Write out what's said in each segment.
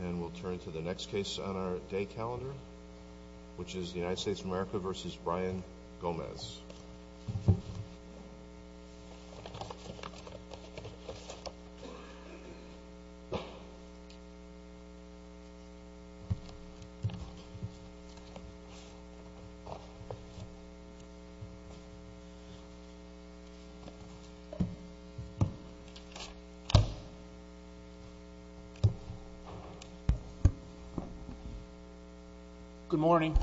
And we'll turn to the next case on our day calendar, which is the United States of America v. Brian Gomez. Good morning.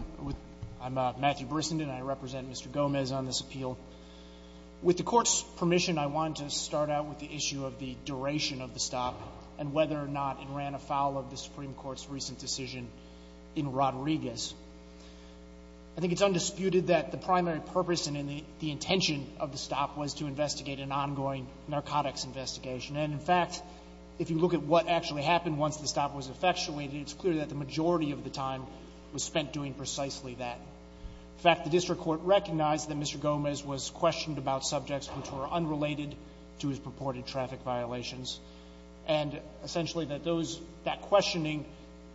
I'm Matthew Brissenden, and I represent Mr. Gomez on this appeal. With the Court's permission, I wanted to start out with the issue of the duration of the stop and whether or not it ran afoul of the Supreme Court's recent decision in Rodriguez. I think it's undisputed that the primary purpose and the intention of the stop was to investigate an ongoing narcotics investigation. And, in fact, if you look at what actually happened once the stop was effectuated, it's clear that the majority of the time was spent doing precisely that. In fact, the district court recognized that Mr. Gomez was questioned about subjects which were unrelated to his purported traffic violations, and essentially that those — that questioning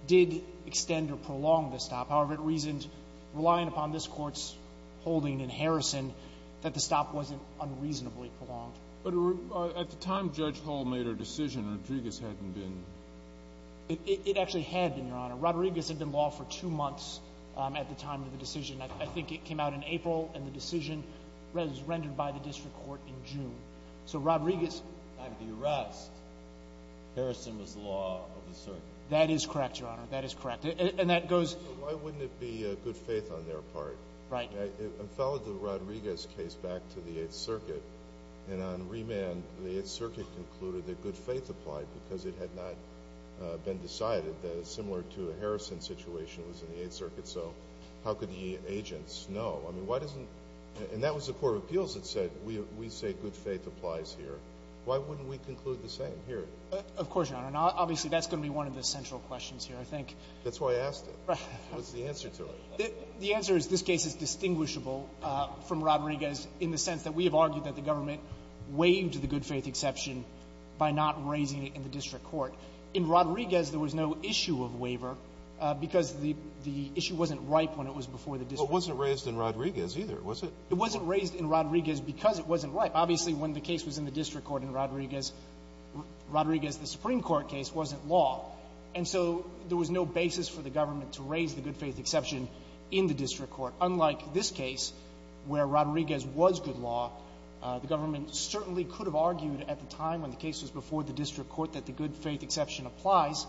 did extend or prolong the stop. However, it reasoned, relying upon this Court's holding in Harrison, that the stop wasn't unreasonably prolonged. But at the time Judge Hall made her decision, Rodriguez hadn't been— It actually had been, Your Honor. Rodriguez had been law for two months at the time of the decision. I think it came out in April, and the decision was rendered by the district court in June. So Rodriguez— At the time of the arrest, Harrison was law of the circuit. That is correct, Your Honor. That is correct. And that goes— Why wouldn't it be good faith on their part? Right. It followed the Rodriguez case back to the Eighth Circuit, and on remand, the Eighth Circuit concluded that good faith applied because it had not been decided that, similar to a Harrison situation, it was in the Eighth Circuit. So how could the agents know? I mean, why doesn't—and that was the court of appeals that said, we say good faith applies here. Why wouldn't we conclude the same here? Of course, Your Honor. Obviously, that's going to be one of the central questions here, I think. That's why I asked it. What's the answer to it? The answer is this case is distinguishable from Rodriguez in the sense that we have argued that the government waived the good faith exception by not raising it in the district court. In Rodriguez, there was no issue of waiver because the issue wasn't ripe when it was before the district court. But it wasn't raised in Rodriguez, either, was it? It wasn't raised in Rodriguez because it wasn't ripe. Obviously, when the case was in the district court in Rodriguez, Rodriguez, the Supreme Court case, wasn't law. And so there was no basis for the government to raise the good faith exception in the district court. Unlike this case, where Rodriguez was good law, the government certainly could have argued at the time when the case was before the district court that the good faith exception applies.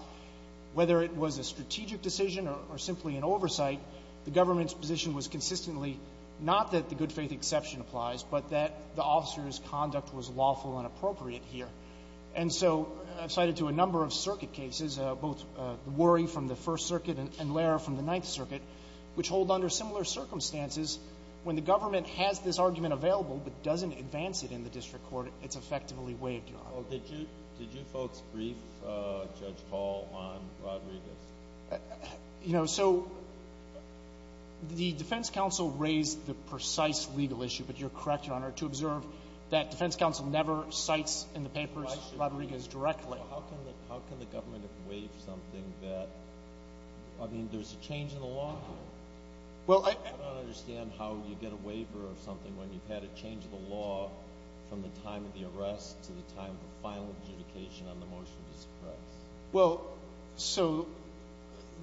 Whether it was a strategic decision or simply an oversight, the government's position was consistently not that the good faith exception applies, but that the officer's conduct was lawful and appropriate here. And so I've cited to a number of circuit cases, both Worry from the First Circuit and Lehrer from the Ninth Circuit, which hold under similar circumstances when the government has this argument available but doesn't advance it in the district court, it's effectively waived, Your Honor. Well, did you folks brief Judge Hall on Rodriguez? You know, so the defense counsel raised the precise legal issue, but you're correct, Your Honor, to observe that defense counsel never cites in the papers Rodriguez directly. Well, how can the government waive something that, I mean, there's a change in the law here. Well, I don't understand how you get a waiver of something when you've had a change in the law from the time of the arrest to the time of the final justification on the motion to suppress. Well, so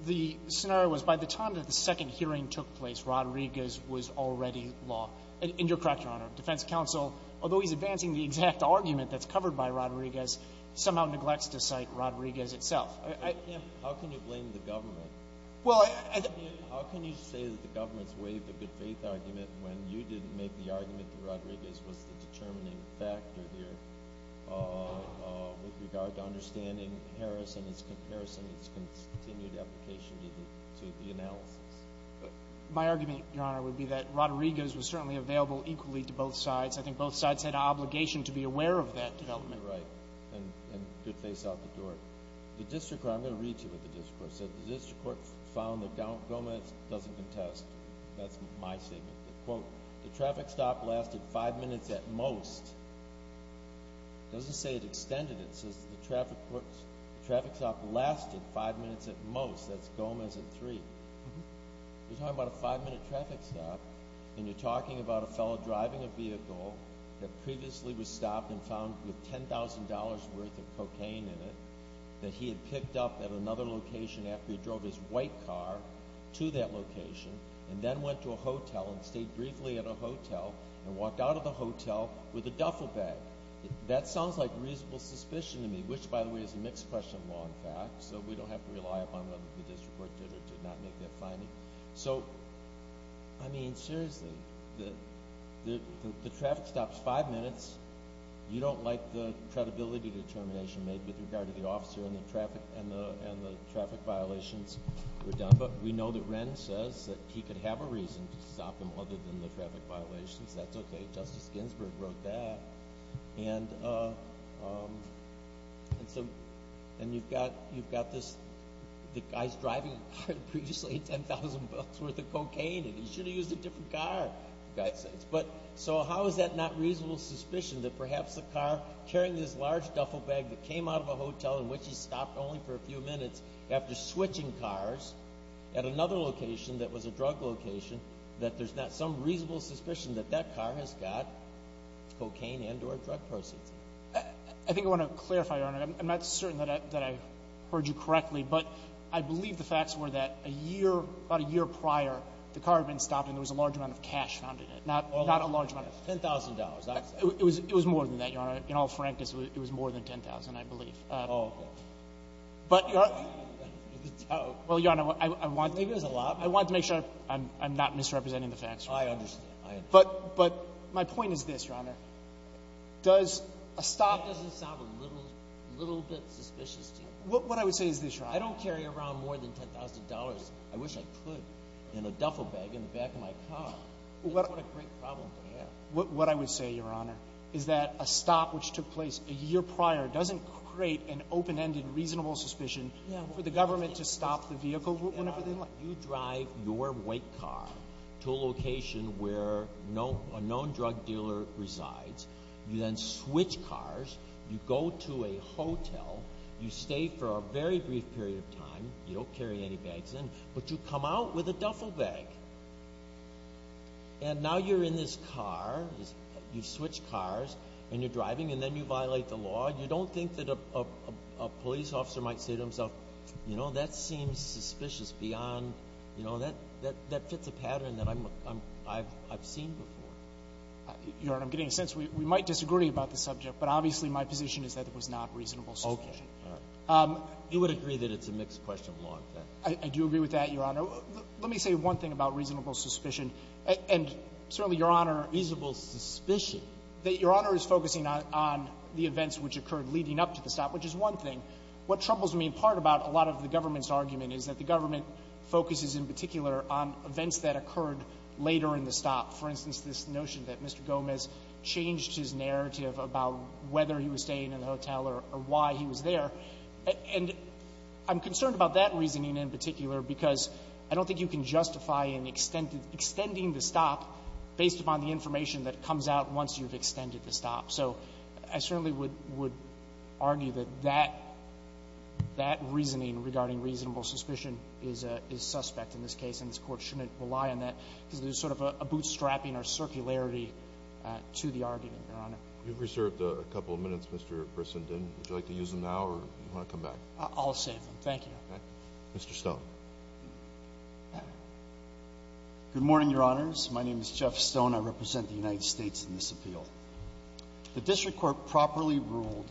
the scenario was by the time that the second hearing took place, Rodriguez was already law. And you're correct, Your Honor, defense counsel, although he's advancing the exact argument that's covered by Rodriguez, somehow neglects to cite Rodriguez itself. How can you blame the government? Well, I — How can you say that the government's waived the good faith argument when you didn't make the argument that Rodriguez was the determining factor here with regard to understanding Harris and its comparison, its continued application to the analysis? My argument, Your Honor, would be that Rodriguez was certainly available equally to both sides. I think both sides had an obligation to be aware of that development. You're right. And good faith's out the door. The district court — I'm going to read to you what the district court said. The district court found that Gomez doesn't contest. That's my statement. Quote, the traffic stop lasted five minutes at most. It doesn't say it extended it. It says the traffic stop lasted five minutes at most. That's Gomez at three. You're talking about a five-minute traffic stop, and you're talking about a fellow driving a vehicle that previously was stopped and found with $10,000 worth of cocaine in it that he had picked up at another location after he drove his white car to that location and then went to a hotel and stayed briefly at a hotel and walked out of the hotel with a duffel bag. That sounds like reasonable suspicion to me, which, by the way, is a mixed question of So, I mean, seriously, the traffic stop's five minutes. You don't like the credibility determination made with regard to the officer and the traffic violations were done. But we know that Wren says that he could have a reason to stop him other than the traffic violations. That's okay. Justice Ginsburg wrote that. And you've got this guy's driving a car that previously had $10,000 worth of cocaine in it. He should have used a different car. So how is that not reasonable suspicion that perhaps the car carrying this large duffel bag that came out of a hotel in which he stopped only for a few minutes after switching cars at another location that was a drug location, that there's not some reasonable suspicion that that car has got cocaine and or drug proceeds in it? I think I want to clarify, Your Honor. I'm not certain that I heard you correctly. But I believe the facts were that a year, about a year prior, the car had been stopped and there was a large amount of cash found in it, not a large amount of cash. $10,000. It was more than that, Your Honor. In all frankness, it was more than $10,000, I believe. Oh, okay. I understand. But my point is this, Your Honor. Does a stop... That doesn't sound a little bit suspicious to you. What I would say is this, Your Honor. I don't carry around more than $10,000. I wish I could in a duffel bag in the back of my car. What a great problem to have. What I would say, Your Honor, is that a stop which took place a year prior doesn't create an open-ended reasonable suspicion for the government to stop the vehicle whenever they like. You drive your white car to a location where a known drug dealer resides. You then switch cars. You go to a hotel. You stay for a very brief period of time. You don't carry any bags in. But you come out with a duffel bag. And now you're in this car. You switch cars and you're driving and then you violate the law. You don't think that a police officer might say to himself, you know, that seems suspicious beyond, you know, that fits a pattern that I've seen before? Your Honor, I'm getting a sense we might disagree about the subject, but obviously my position is that it was not reasonable suspicion. Okay. All right. You would agree that it's a mixed question, law and fact? I do agree with that, Your Honor. Let me say one thing about reasonable suspicion. And certainly, Your Honor... Reasonable suspicion? That Your Honor is focusing on the events which occurred leading up to the stop, which is one thing. What troubles me in part about a lot of the government's argument is that the government focuses in particular on events that occurred later in the stop. For instance, this notion that Mr. Gomez changed his narrative about whether he was staying in the hotel or why he was there. And I'm concerned about that reasoning in particular because I don't think you can So I certainly would argue that that reasoning regarding reasonable suspicion is suspect in this case, and this Court shouldn't rely on that because there's sort of a bootstrapping or circularity to the argument, Your Honor. You've reserved a couple of minutes, Mr. Brissenden. Would you like to use them now or do you want to come back? I'll save them. Thank you. Mr. Stone. Good morning, Your Honors. My name is Jeff Stone. I represent the United States in this appeal. The district court properly ruled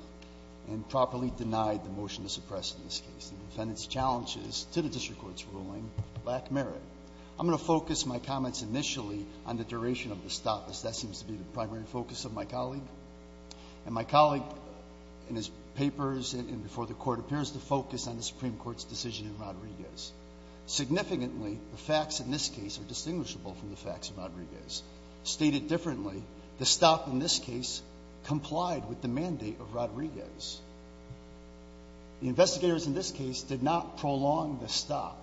and properly denied the motion to suppress in this case. The defendant's challenges to the district court's ruling lack merit. I'm going to focus my comments initially on the duration of the stop, as that seems to be the primary focus of my colleague. And my colleague in his papers and before the Court appears to focus on the Supreme Court's decision in Rodriguez. State it differently. The stop in this case complied with the mandate of Rodriguez. The investigators in this case did not prolong the stop.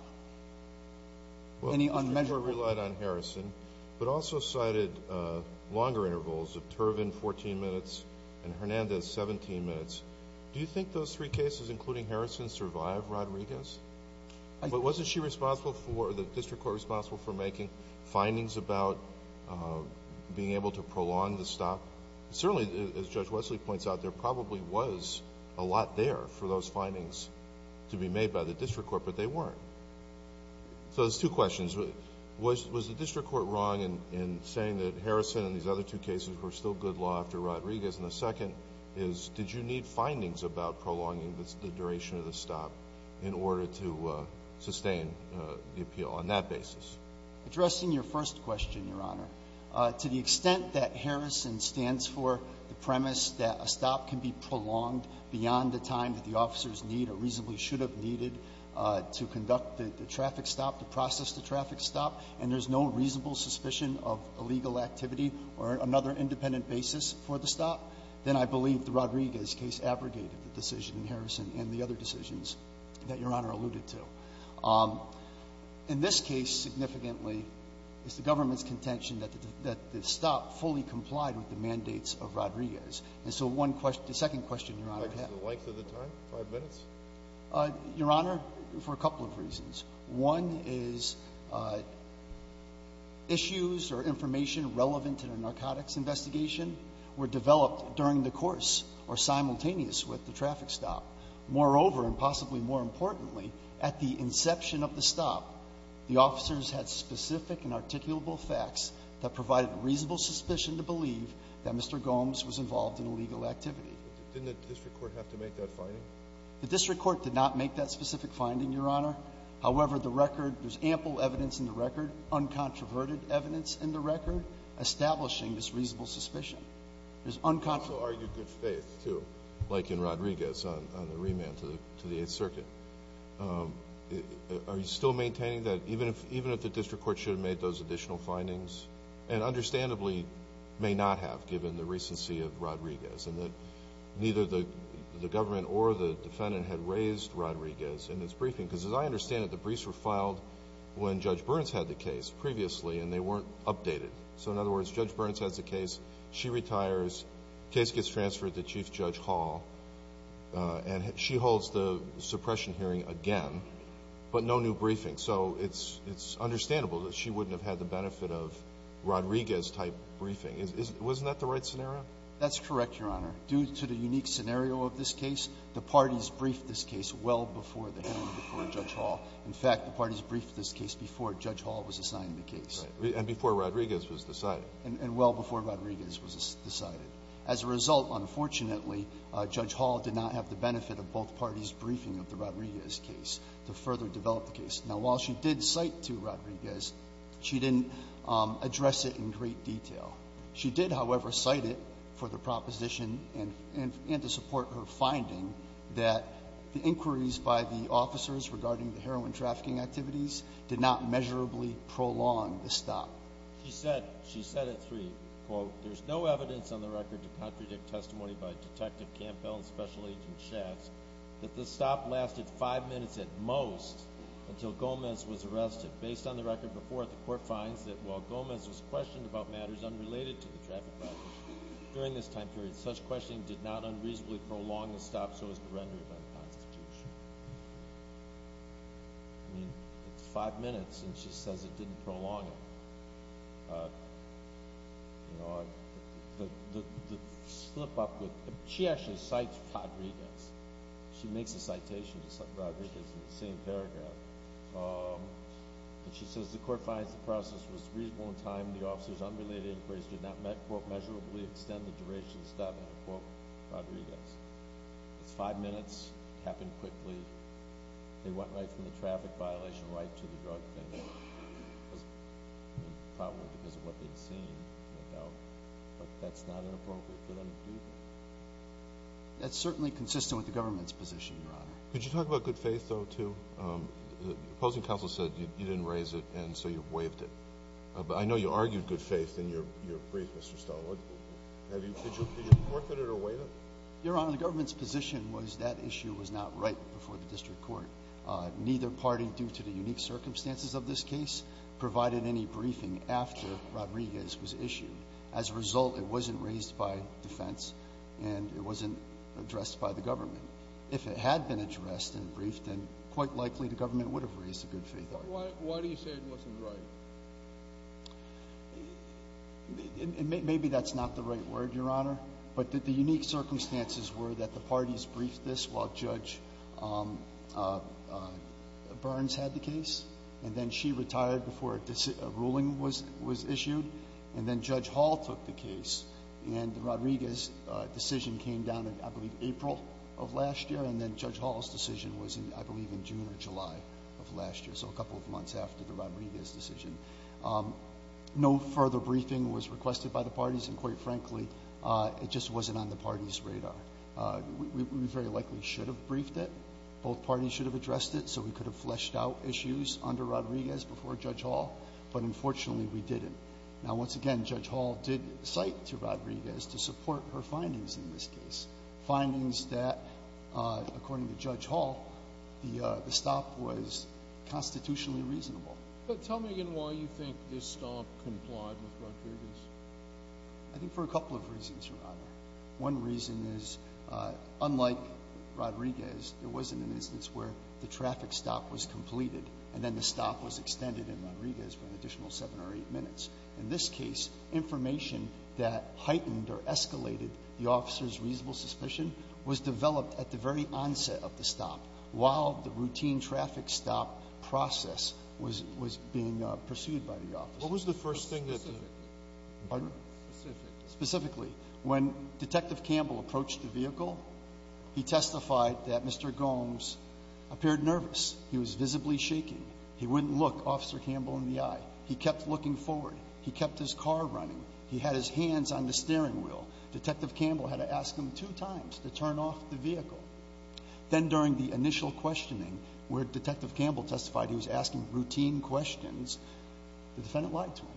Well, the district court relied on Harrison, but also cited longer intervals of Turvin 14 minutes and Hernandez 17 minutes. Do you think those three cases, including Harrison, survived Rodriguez? But wasn't she responsible for or the district court responsible for making findings about being able to prolong the stop? Certainly, as Judge Wesley points out, there probably was a lot there for those findings to be made by the district court, but they weren't. So there's two questions. Was the district court wrong in saying that Harrison and these other two cases were still good law after Rodriguez? And the second is, did you need findings about prolonging the duration of the stop in order to sustain the appeal on that basis? Addressing your first question, Your Honor, to the extent that Harrison stands for the premise that a stop can be prolonged beyond the time that the officers need or reasonably should have needed to conduct the traffic stop, to process the traffic stop, and there's no reasonable suspicion of illegal activity or another independent basis for the stop, then I believe the Rodriguez case abrogated the decision in Harrison and the other decisions that Your Honor alluded to. In this case, significantly, it's the government's contention that the stop fully complied with the mandates of Rodriguez. And so one question – the second question, Your Honor. The length of the time? Five minutes? Your Honor, for a couple of reasons. One is issues or information relevant to the narcotics investigation were developed during the course or simultaneous with the traffic stop. Moreover, and possibly more importantly, at the inception of the stop, the officers had specific and articulable facts that provided reasonable suspicion to believe that Mr. Gomes was involved in illegal activity. Didn't the district court have to make that finding? The district court did not make that specific finding, Your Honor. However, the record – there's ample evidence in the record, uncontroverted evidence in the record, establishing this reasonable suspicion. It's unconscionable to argue good faith, too, like in Rodriguez on the remand to the Eighth Circuit. Are you still maintaining that even if the district court should have made those additional findings, and understandably may not have given the recency of Rodriguez and that neither the government or the defendant had raised Rodriguez in its briefing? Because as I understand it, the briefs were filed when Judge Burns had the case previously and they weren't updated. So in other words, Judge Burns has the case, she retires, case gets transferred to Chief Judge Hall, and she holds the suppression hearing again, but no new briefing. So it's understandable that she wouldn't have had the benefit of Rodriguez-type briefing. Wasn't that the right scenario? That's correct, Your Honor. Due to the unique scenario of this case, the parties briefed this case well before the hearing before Judge Hall. In fact, the parties briefed this case before Judge Hall was assigned the case. And before Rodriguez was decided. And well before Rodriguez was decided. As a result, unfortunately, Judge Hall did not have the benefit of both parties' briefing of the Rodriguez case to further develop the case. Now, while she did cite to Rodriguez, she didn't address it in great detail. She did, however, cite it for the proposition and to support her finding that the inquiries by the officers regarding the heroin trafficking activities did not measurably prolong the stop. She said at three, quote, There's no evidence on the record to contradict testimony by Detective Campbell and Special Agent Schatz that the stop lasted five minutes at most until Gomez was arrested. Based on the record before it, the court finds that while Gomez was questioned about matters unrelated to the traffic violation during this time period, such questioning did not unreasonably prolong the stop so as to render it unconstitutional. I mean, it's five minutes and she says it didn't prolong it. You know, the slip up with, she actually cites Rodriguez. She makes a citation to Rodriguez in the same paragraph. And she says the court finds the process was reasonable in time and the officers unrelated inquiries did not, quote, measurably extend the duration of the stop, end quote, Rodriguez. It's five minutes. It happened quickly. They went right from the traffic violation right to the drug offender. It was probably because of what they'd seen. But that's not inappropriate for them to do that. That's certainly consistent with the government's position, Your Honor. Could you talk about good faith, though, too? The opposing counsel said you didn't raise it and so you waived it. But I know you argued good faith in your brief, Mr. Stallworth. Did you forfeit it or waive it? Your Honor, the government's position was that issue was not right before the district court. Neither party, due to the unique circumstances of this case, provided any briefing after Rodriguez was issued. As a result, it wasn't raised by defense and it wasn't addressed by the government. If it had been addressed in the brief, then quite likely the government would have raised a good faith argument. Why do you say it wasn't right? Maybe that's not the right word, Your Honor. But the unique circumstances were that the parties briefed this while Judge Burns had the case. And then she retired before a ruling was issued. And then Judge Hall took the case. And Rodriguez's decision came down, I believe, in April of last year. And then Judge Hall's decision was, I believe, in June or July of last year. So a couple of months after the Rodriguez decision. No further briefing was requested by the parties. And, quite frankly, it just wasn't on the parties' radar. We very likely should have briefed it. Both parties should have addressed it so we could have fleshed out issues under Rodriguez before Judge Hall. But, unfortunately, we didn't. Now, once again, Judge Hall did cite to Rodriguez to support her findings in this case, findings that, according to Judge Hall, the stop was constitutionally reasonable. But tell me again why you think this stop complied with Rodriguez. I think for a couple of reasons, Your Honor. One reason is, unlike Rodriguez, there wasn't an instance where the traffic stop was completed and then the stop was extended in Rodriguez for an additional seven or eight minutes. In this case, information that heightened or escalated the officer's reasonable suspicion was developed at the very onset of the stop while the routine traffic stop process was being pursued by the officer. What was the first thing that the — Specific. Pardon? Specific. Specifically. When Detective Campbell approached the vehicle, he testified that Mr. Gomes appeared nervous. He was visibly shaking. He wouldn't look Officer Campbell in the eye. He kept looking forward. He kept his car running. He had his hands on the steering wheel. Detective Campbell had to ask him two times to turn off the vehicle. Then, during the initial questioning, where Detective Campbell testified he was asking routine questions, the defendant lied to him.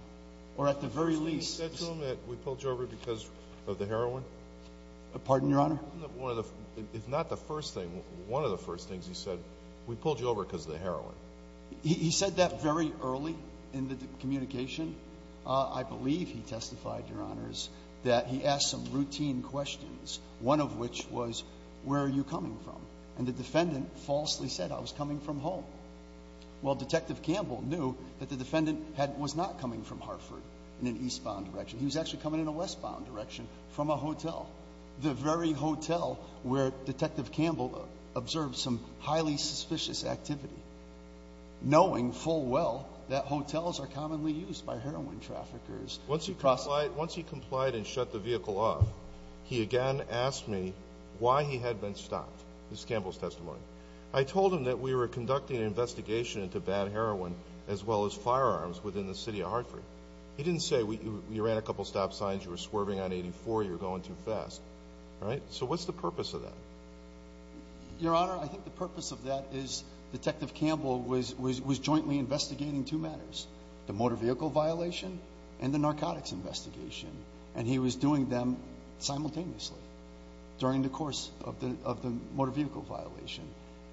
Or, at the very least — Didn't he say to him that we pulled you over because of the heroin? Pardon, Your Honor? Wasn't that one of the — if not the first thing, one of the first things he said, we pulled you over because of the heroin? He said that very early in the communication. I believe he testified, Your Honors, that he asked some routine questions, one of which was, where are you coming from? And the defendant falsely said, I was coming from home. Well, Detective Campbell knew that the defendant had — was not coming from Hartford in an eastbound direction. He was actually coming in a westbound direction from a hotel, the very hotel where Detective Campbell observed some highly suspicious activity. Knowing full well that hotels are commonly used by heroin traffickers. Once he complied and shut the vehicle off, he again asked me why he had been stopped. This is Campbell's testimony. I told him that we were conducting an investigation into bad heroin as well as firearms within the city of Hartford. He didn't say, you ran a couple stop signs, you were swerving on 84, you were going too fast. All right? So what's the purpose of that? Your Honor, I think the purpose of that is Detective Campbell was jointly investigating two matters, the motor vehicle violation and the narcotics investigation. And he was doing them simultaneously during the course of the motor vehicle violation.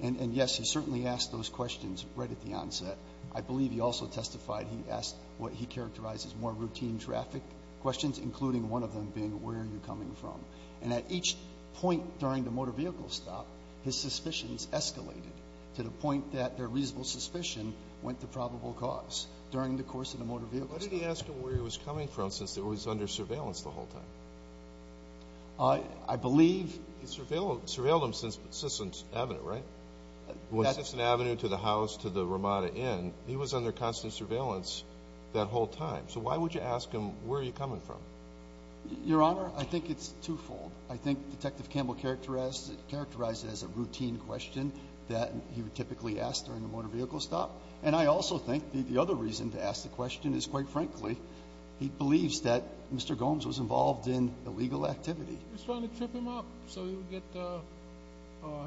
And, yes, he certainly asked those questions right at the onset. I believe he also testified he asked what he characterized as more routine traffic questions, including one of them being, where are you coming from? And at each point during the motor vehicle stop, his suspicions escalated to the point that their reasonable suspicion went to probable cause during the course of the motor vehicle stop. Why did he ask him where he was coming from since he was under surveillance the whole time? I believe. He surveilled him since Sisson Avenue, right? From Sisson Avenue to the house to the Ramada Inn, he was under constant surveillance that whole time. So why would you ask him, where are you coming from? Your Honor, I think it's twofold. I think Detective Campbell characterized it as a routine question that he would typically ask during the motor vehicle stop. And I also think the other reason to ask the question is, quite frankly, he believes that Mr. Gomes was involved in illegal activity. He was trying to trip him up so he would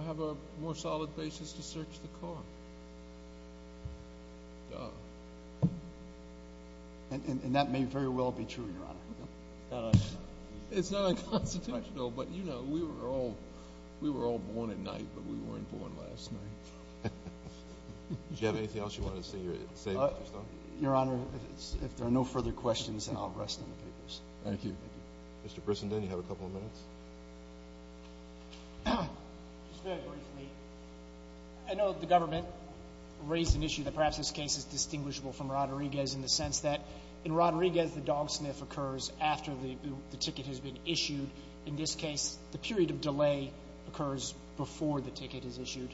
have a more solid basis to search the car. Duh. And that may very well be true, Your Honor. It's not unconstitutional, but, you know, we were all born at night, but we weren't born last night. Do you have anything else you want to say, Mr. Stone? Your Honor, if there are no further questions, then I'll rest on the papers. Thank you. Mr. Brissenden, you have a couple of minutes. Just very briefly, I know the government raised an issue that perhaps this case is distinguishable from Rodriguez in the sense that in Rodriguez the dog sniff occurs after the ticket has been issued. In this case, the period of delay occurs before the ticket is issued.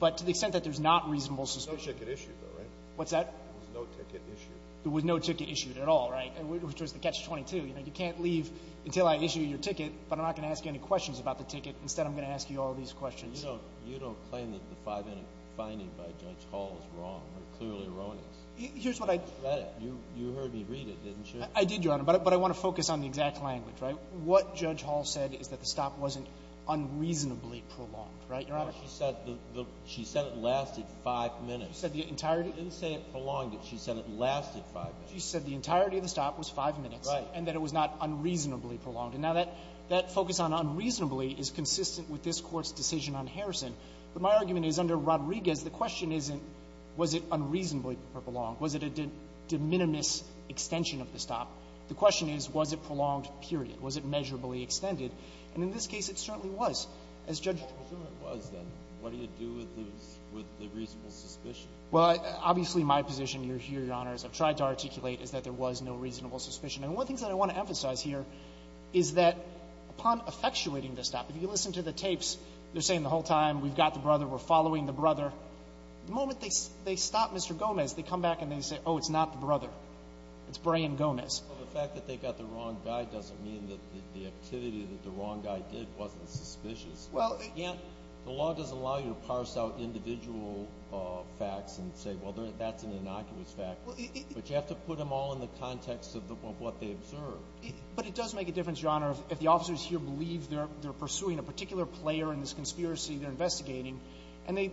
But to the extent that there's not reasonable suspicion. There was no ticket issued, though, right? What's that? There was no ticket issued. There was no ticket issued at all, right, which was the Catch-22. You know, you can't leave until I issue your ticket, but I'm not going to ask you any questions about the ticket. Instead, I'm going to ask you all these questions. You don't claim that the five-minute finding by Judge Hall is wrong. They're clearly erroneous. Here's what I... You read it. You heard me read it, didn't you? I did, Your Honor, but I want to focus on the exact language, right? What Judge Hall said is that the stop wasn't unreasonably prolonged, right, Your Honor? No, she said it lasted five minutes. She said the entirety... She didn't say it prolonged it. She said it lasted five minutes. She said the entirety of the stop was five minutes. Right. And that it was not unreasonably prolonged. And now that focus on unreasonably is consistent with this Court's decision on Harrison. But my argument is under Rodriguez, the question isn't was it unreasonably prolonged, was it a de minimis extension of the stop. The question is, was it prolonged, period? Was it measurably extended? And in this case, it certainly was. As Judge... I assume it was, then. What do you do with the reasonable suspicion? Well, obviously, my position here, Your Honors, I've tried to articulate, is that there was no reasonable suspicion. And one of the things I want to emphasize here is that upon effectuating the stop, if you listen to the tapes, they're saying the whole time, we've got the brother, we're following the brother. The moment they stop Mr. Gomez, they come back and they say, oh, it's not the brother, it's Brian Gomez. Well, the fact that they got the wrong guy doesn't mean that the activity that the wrong guy did wasn't suspicious. Well... You can't... The law doesn't allow you to parse out individual facts and say, well, that's an innocuous But you have to put them all in the context of what they observed. But it does make a difference, Your Honor, if the officers here believe they're pursuing a particular player in this conspiracy they're investigating, and they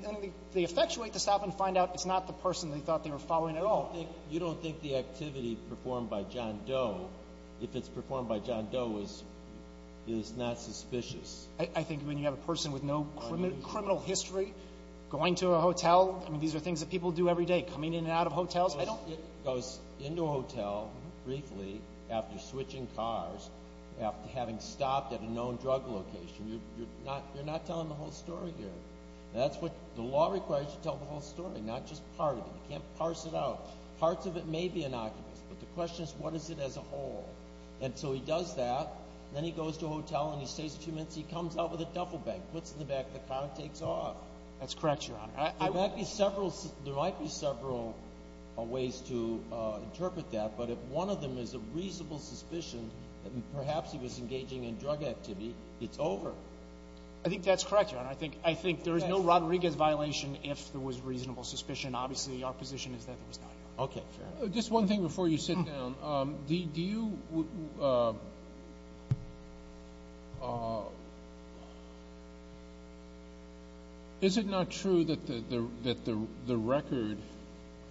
effectuate the stop and find out it's not the person they thought they were following at all. You don't think the activity performed by John Doe, if it's performed by John Doe, is not suspicious? I think when you have a person with no criminal history going to a hotel... He goes into a hotel briefly after switching cars, after having stopped at a known drug location. You're not telling the whole story here. The law requires you to tell the whole story, not just part of it. You can't parse it out. Parts of it may be innocuous. But the question is, what is it as a whole? And so he does that. Then he goes to a hotel and he stays a few minutes. He comes out with a duffel bag, puts it in the back of the car, and takes off. That's correct, Your Honor. There might be several ways to interpret that, but if one of them is a reasonable suspicion that perhaps he was engaging in drug activity, it's over. I think that's correct, Your Honor. I think there is no Rodriguez violation if there was reasonable suspicion. Obviously, our position is that there was not. Okay, fair enough. Just one thing before you sit down. Is it not true that the record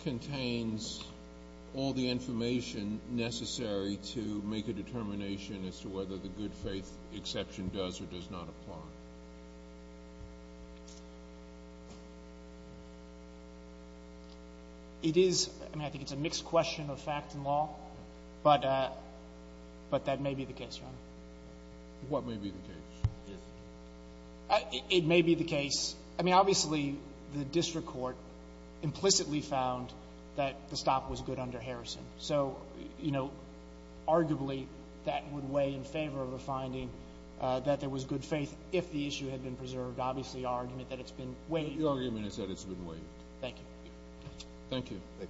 contains all the information necessary to make a determination as to whether the good faith exception does or does not apply? It is. I mean, I think it's a mixed question of fact and law. But that may be the case, Your Honor. What may be the case? It may be the case. I mean, obviously, the district court implicitly found that the stop was good under Harrison. So, you know, arguably that would weigh in favor of a finding that there was good faith if the issue had been preserved. Obviously, our argument that it's been waived. Your argument is that it's been waived. Thank you. Thank you.